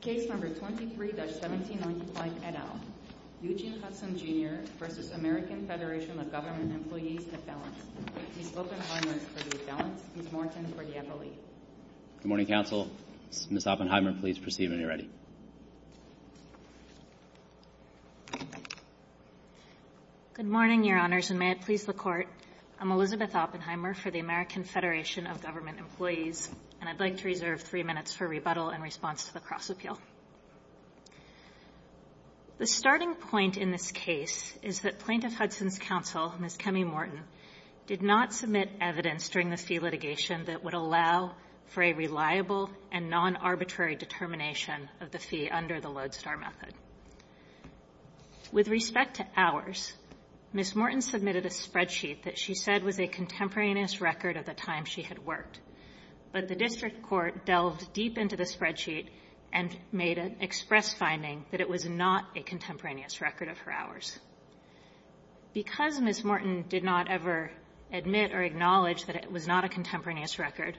Case No. 23-1795, et al., Eugene Hudson, Jr. v. American Federation of Government Employees, Affiliates. He spoke in silence for the Affiliates, Ms. Morton for the Affiliates. Good morning, counsel. Ms. Oppenheimer, please proceed when you're ready. Good morning, Your Honors, and may it please the Court. I'm Elizabeth Oppenheimer for the American Federation of Government Employees, and I'd like to reserve three minutes for rebuttal in response to the cross-appeal. The starting point in this case is that Plaintiff Hudson's counsel, Ms. Kemi Morton, did not submit evidence during the fee litigation that would allow for a reliable and non-arbitrary determination of the fee under the Lodestar Method. With respect to ours, Ms. Morton submitted a spreadsheet that she said was a contemporaneous record of the time she had worked. But the district court delved deep into the spreadsheet and made an express finding that it was not a contemporaneous record of her hours. Because Ms. Morton did not ever admit or acknowledge that it was not a contemporaneous record,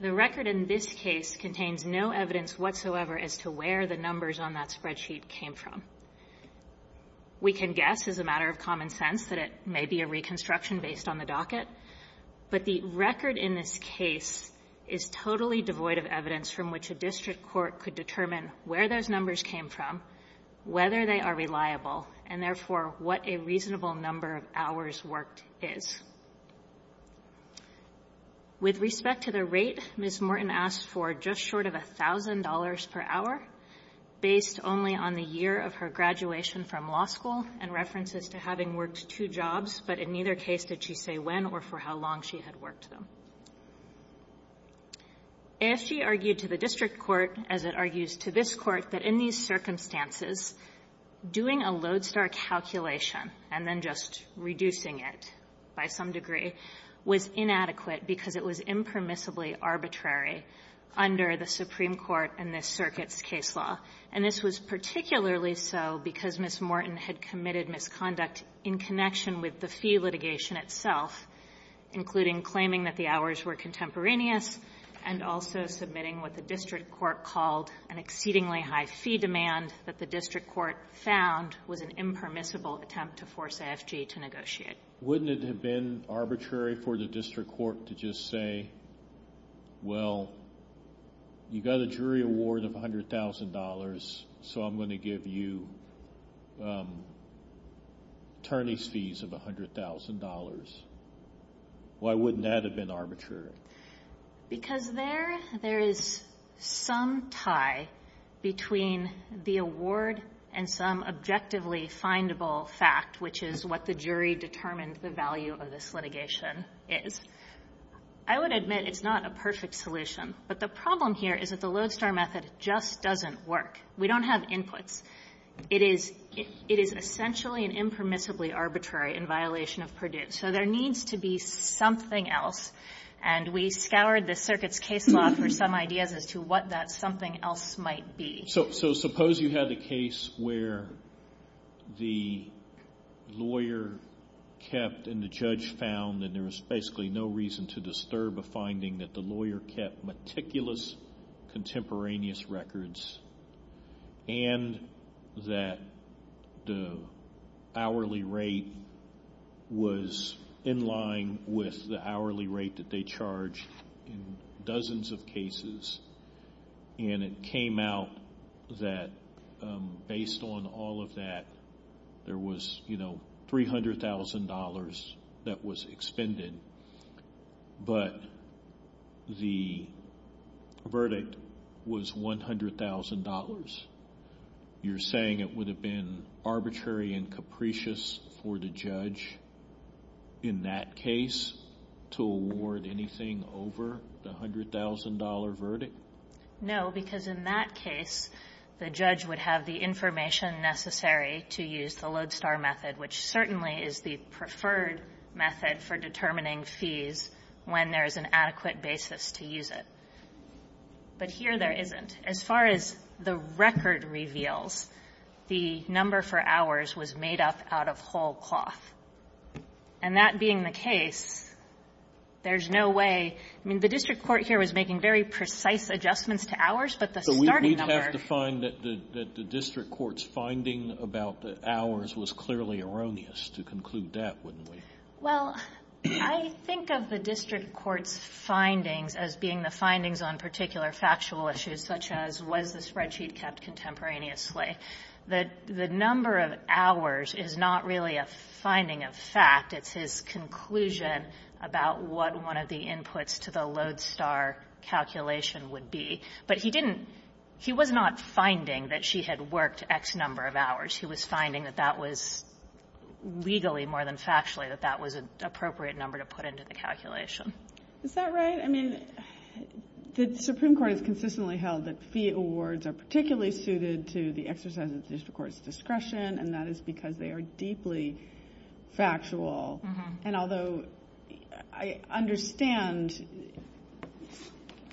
the record in this case contains no evidence whatsoever as to where the numbers on that spreadsheet came from. We can guess, as a matter of common sense, that it may be a reconstruction based on the docket, but the record in this case is totally devoid of evidence from which a district court could determine where those numbers came from, whether they are reliable, and therefore, what a reasonable number of hours worked is. With respect to the rate, Ms. Morton asked for just short of $1,000 per hour, based only on the year of her graduation from law school and references to having worked two jobs. But in neither case did she say when or for how long she had worked them. ASG argued to the district court, as it argues to this Court, that in these circumstances, doing a lodestar calculation and then just reducing it by some degree was inadequate because it was impermissibly arbitrary under the Supreme Court and this circuit's case law. And this was particularly so because Ms. Morton had committed misconduct in connection with the fee litigation itself, including claiming that the hours were contemporaneous and also submitting what the district court called an exceedingly high fee demand that the district court found was an impermissible attempt to force AFG to negotiate. Wouldn't it have been arbitrary for the district court to just say, well, you got a jury award of $100,000, so I'm going to give you attorney's fees of $100,000? Why wouldn't that have been arbitrary? Because there is some tie between the award and some objectively findable fact, which is what the jury determined the value of this litigation is. I would admit it's not a perfect solution, but the problem here is that the lodestar method just doesn't work. We don't have inputs. It is essentially an impermissibly arbitrary in violation of Purdue. So there needs to be something else, and we scoured the circuit's case law for some ideas as to what that something else might be. So suppose you had a case where the lawyer kept and the judge found and there was basically no reason to disturb a finding that the lawyer kept meticulous contemporaneous records and that the hourly rate was in line with the hourly rate that they charge in dozens of cases, and it came out that based on all of that, there was $300,000 that was expended on, but the verdict was $100,000. You're saying it would have been arbitrary and capricious for the judge in that case to award anything over the $100,000 verdict? No, because in that case, the judge would have the information necessary to use the lodestar method, which certainly is the preferred method for determining fees when there is an adequate basis to use it. But here there isn't. As far as the record reveals, the number for hours was made up out of whole cloth. And that being the case, there's no way — I mean, the district court here was making very precise adjustments to hours, but the starting number — That the district court's finding about the hours was clearly erroneous. To conclude that, wouldn't we? Well, I think of the district court's findings as being the findings on particular factual issues, such as was the spreadsheet kept contemporaneously. The number of hours is not really a finding of fact. It's his conclusion about what one of the inputs to the lodestar calculation would be. But he didn't — he was not finding that she had worked X number of hours. He was finding that that was — legally more than factually, that that was an appropriate number to put into the calculation. Is that right? I mean, the Supreme Court has consistently held that fee awards are particularly suited to the exercise of the district court's discretion, and that is because they are deeply factual. Uh-huh. And although I understand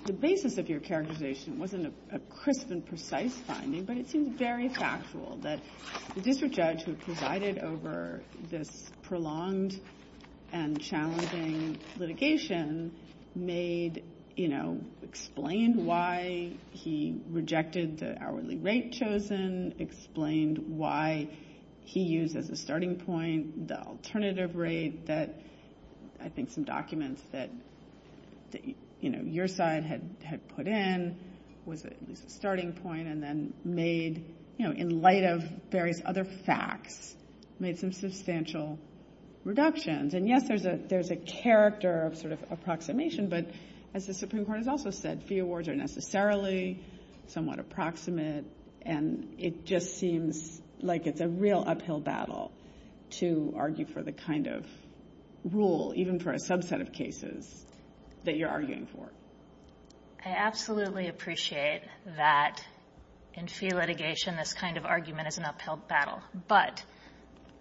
the basis of your characterization wasn't a crisp and precise finding, but it seems very factual that the district judge who provided over this prolonged and challenging litigation made — you know, explained why he rejected the hourly rate chosen, explained why he used as a starting point the alternative rate that I think some documents that, you know, your side had put in was at least a starting point, and then made — you know, in light of various other facts, made some substantial reductions. And yes, there's a character of sort of approximation, but as the Supreme Court has also said, fee awards are necessarily somewhat approximate, and it just seems like it's a real uphill battle to argue for the kind of rule, even for a subset of cases, that you're arguing for. I absolutely appreciate that in fee litigation, this kind of argument is an uphill battle, but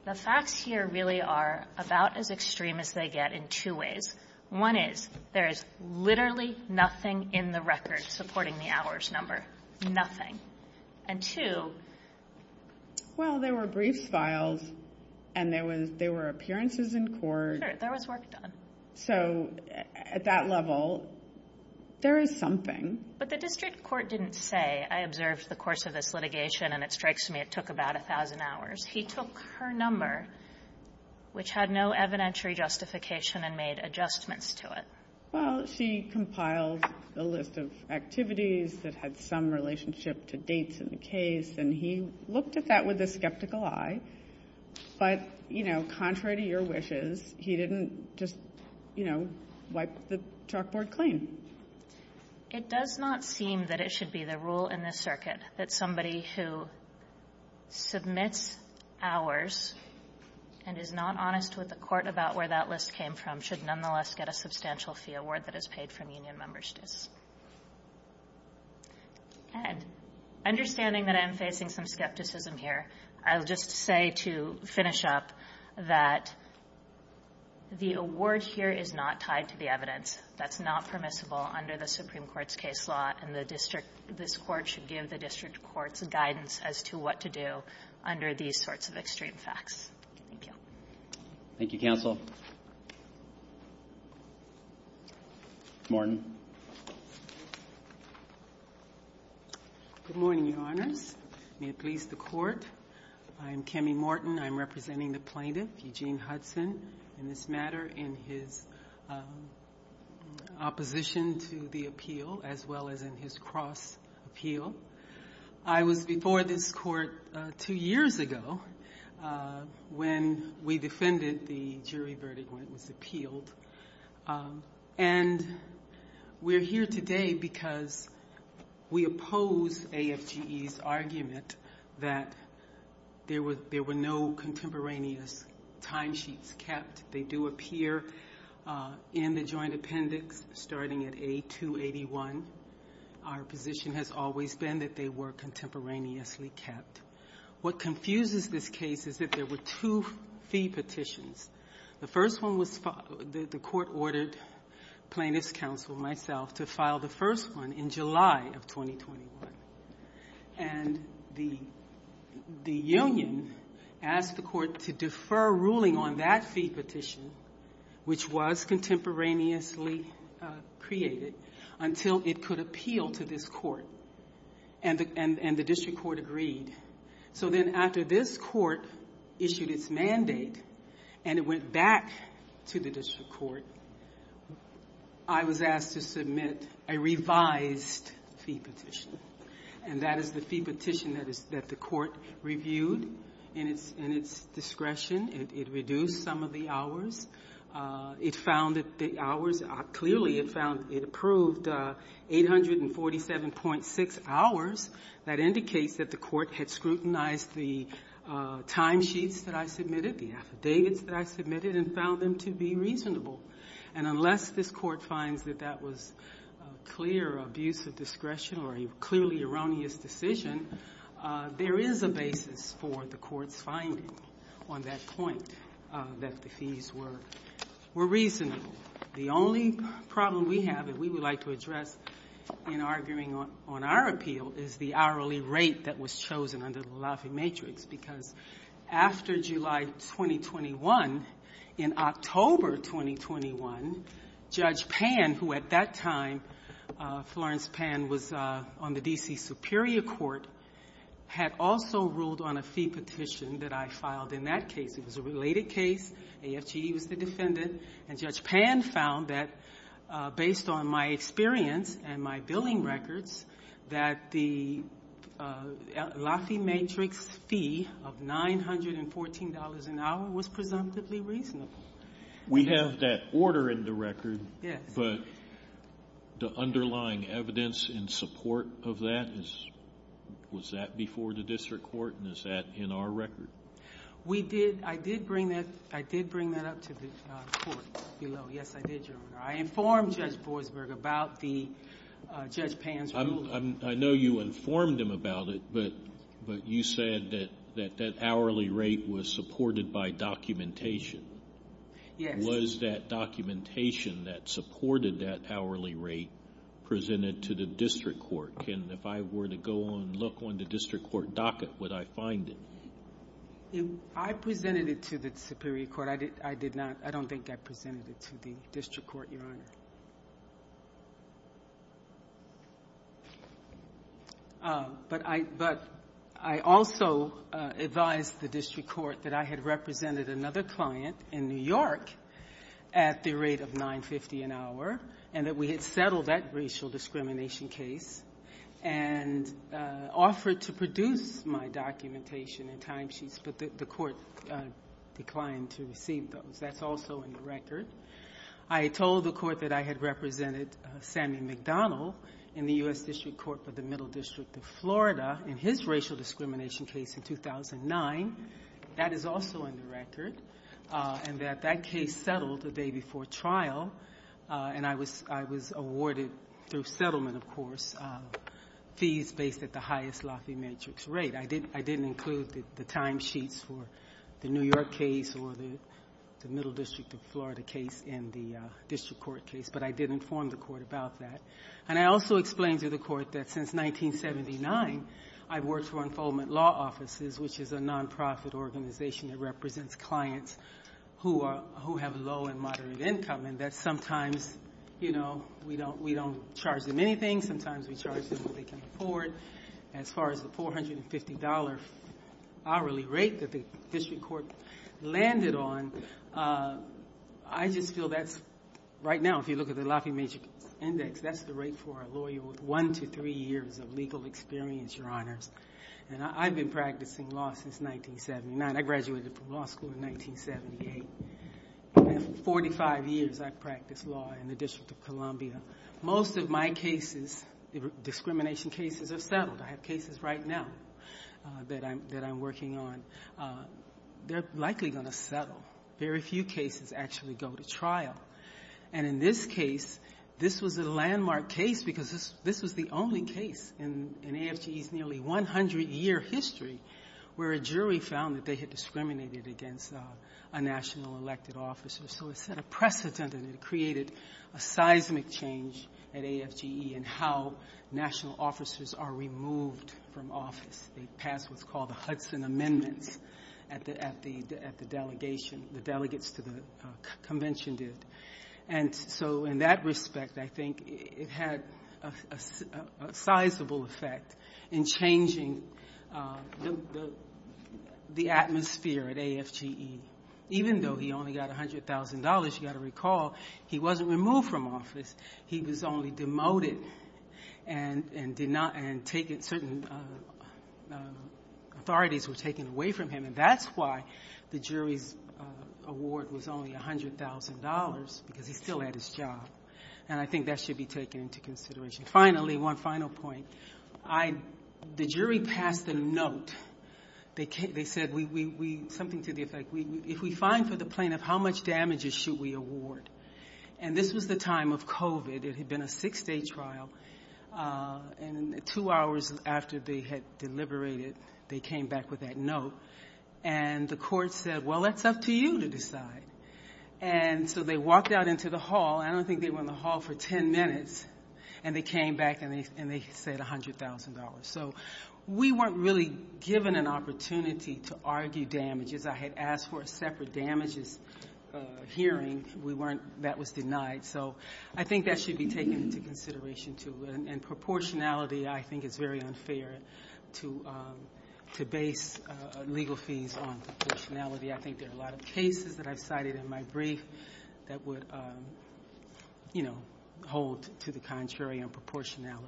the facts here really are about as extreme as they get in two ways. One is there is literally nothing in the record supporting the hours number, nothing. And two — Well, there were briefs filed, and there were appearances in court. Sure, there was work done. So, at that level, there is something. But the district court didn't say, I observed the course of this litigation, and it strikes me it took about 1,000 hours. He took her number, which had no evidentiary justification, and made adjustments to it. Well, she compiled a list of activities that had some relationship to dates in the case, and he looked at that with a skeptical eye. But, you know, contrary to your wishes, he didn't just, you know, wipe the chalkboard clean. It does not seem that it should be the rule in this circuit that somebody who submits hours and is not honest with the court about where that list came from should nonetheless get a substantial fee award that is paid from union member's districts. And understanding that I'm facing some skepticism here, I'll just say to finish up that the award here is not tied to the evidence. That's not permissible under the Supreme Court's case law, and the district — this court should give the district court's guidance as to what to do under these sorts of extreme facts. Thank you. Thank you, counsel. Morton. Good morning, Your Honors. May it please the Court. I'm Kemi Morton. I'm representing the plaintiff, Eugene Hudson, in this matter in his opposition to the appeal, as well as in his cross-appeal. I was before this court two years ago when we defended the jury verdict when it was appealed. And we're here today because we oppose AFGE's argument that there were no contemporaneous timesheets kept. They do appear in the joint appendix, starting at A281. Our position has always been that they were contemporaneously kept. What confuses this case is that there were two fee petitions. The first one was — the court ordered plaintiff's counsel, myself, to file the first one in July of 2021. And the union asked the court to defer ruling on that fee petition, which was contemporaneously created, until it could appeal to this court. And the district court agreed. So then after this court issued its mandate and it went back to the district court, I was asked to submit a revised fee petition. And that is the fee petition that the court reviewed in its discretion. It reduced some of the hours. It found that the hours — clearly it found — it approved 847.6 hours. That indicates that the court had scrutinized the timesheets that I submitted, the affidavits that I submitted, and found them to be reasonable. And unless this court finds that that was clear abuse of discretion or a clearly erroneous decision, there is a basis for the court's finding on that point, that the fees were reasonable. The only problem we have that we would like to address in arguing on our appeal is the hourly rate that was chosen under the Lafayette matrix. Because after July 2021, in October 2021, Judge Pan, who at that time, Florence Pan, was on the D.C. Superior Court, had also ruled on a fee petition that I filed in that case. It was a related case. AFGE was the defendant. And Judge Pan found that, based on my experience and my billing records, that the Lafayette matrix fee of $914 an hour was presumptively reasonable. We have that order in the record. Yes. But the underlying evidence in support of that, was that before the district court? And is that in our record? We did. I did bring that up to the court. Yes, I did, Your Honor. I informed Judge Boisberg about Judge Pan's ruling. I know you informed him about it, but you said that that hourly rate was supported by documentation. Yes. Was that documentation that supported that hourly rate presented to the district court? If I were to go and look on the district court docket, would I find it? I presented it to the Superior Court. I did not. I don't think I presented it to the district court, Your Honor. But I also advised the district court that I had represented another client in New York at the rate of $950 an hour, and that we had settled that racial discrimination case and offered to produce my documentation and timesheets, but the court declined to receive those. That's also in the record. I told the court that I had represented Sammy McDonald in the U.S. District Court for the Middle District of Florida in his racial discrimination case in 2009. That is also in the record, and that that case settled the day before trial, and I was awarded through settlement, of course, fees based at the highest Lafayette matrix rate. I didn't include the timesheets for the New York case or the Middle District of Florida case in the district court case, but I did inform the court about that. And I also explained to the court that since 1979, I've worked for Enfoldment Law Offices, which is a nonprofit organization that represents clients who have low and moderate income, and that sometimes, you know, we don't charge them anything. Sometimes we charge them what they can afford. As far as the $450 hourly rate that the district court landed on, I just feel that's, right now, if you look at the Lafayette matrix index, that's the rate for a lawyer with one to three years of legal experience, Your Honors. And I've been practicing law since 1979. I graduated from law school in 1978. And in 45 years, I've practiced law in the District of Columbia. Most of my cases, discrimination cases, have settled. I have cases right now that I'm working on. They're likely going to settle. Very few cases actually go to trial. And in this case, this was a landmark case because this was the only case in AFGE's nearly 100-year history where a jury found that they had discriminated against a national elected officer. So it set a precedent, and it created a seismic change at AFGE in how national officers are removed from office. They pass what's called the Hudson Amendments at the delegation, the delegates to the convention did. And so in that respect, I think it had a sizable effect in changing the atmosphere at AFGE. Even though he only got $100,000, you've got to recall, he wasn't removed from office. He was only demoted and certain authorities were taken away from him. And that's why the jury's award was only $100,000, because he still had his job. And I think that should be taken into consideration. Finally, one final point. The jury passed a note. They said something to the effect, if we fine for the plaintiff, how much damages should we award? And this was the time of COVID. It had been a six-day trial. And two hours after they had deliberated, they came back with that note. And the court said, well, that's up to you to decide. And so they walked out into the hall. I don't think they were in the hall for 10 minutes. And they came back and they said $100,000. So we weren't really given an opportunity to argue damages. I had asked for a separate damages hearing. We weren't. That was denied. So I think that should be taken into consideration, too. And proportionality, I think, is very unfair to base legal fees on proportionality. I think there are a lot of cases that I've cited in my brief that would hold to the contrary on proportionality.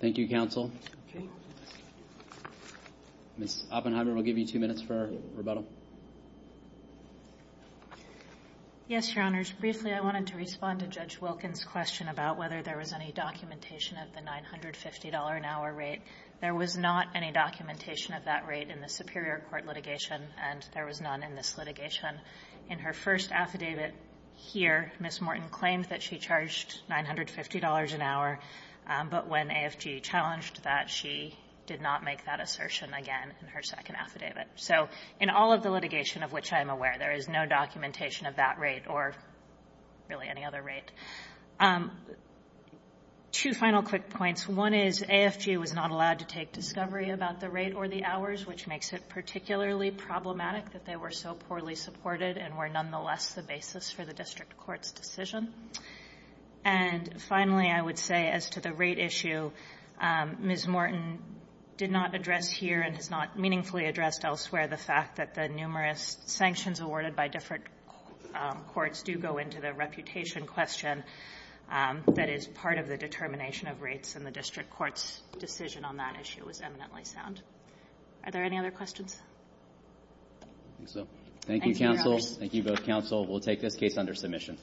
Thank you, counsel. Ms. Oppenheimer, we'll give you two minutes for rebuttal. Yes, Your Honors. Briefly, I wanted to respond to Judge Wilkins' question about whether there was any documentation of the $950-an-hour rate. There was not any documentation of that rate in the Superior Court litigation. And there was none in this litigation. In her first affidavit here, Ms. Morton claimed that she charged $950 an hour. But when AFG challenged that, she did not make that assertion again in her second affidavit. So in all of the litigation of which I am aware, there is no documentation of that rate or really any other rate. Two final quick points. One is AFG was not allowed to take discovery about the rate or the hours, which makes it particularly problematic that they were so poorly supported and were nonetheless the basis for the district court's decision. And finally, I would say as to the rate issue, Ms. Morton did not address here and has not meaningfully addressed elsewhere the fact that the numerous sanctions awarded by different courts do go into the reputation question that is part of the determination of rates. And the district court's decision on that issue was eminently sound. Are there any other questions? I think so. Thank you, counsel. Thank you both, counsel. We'll take this case under submission.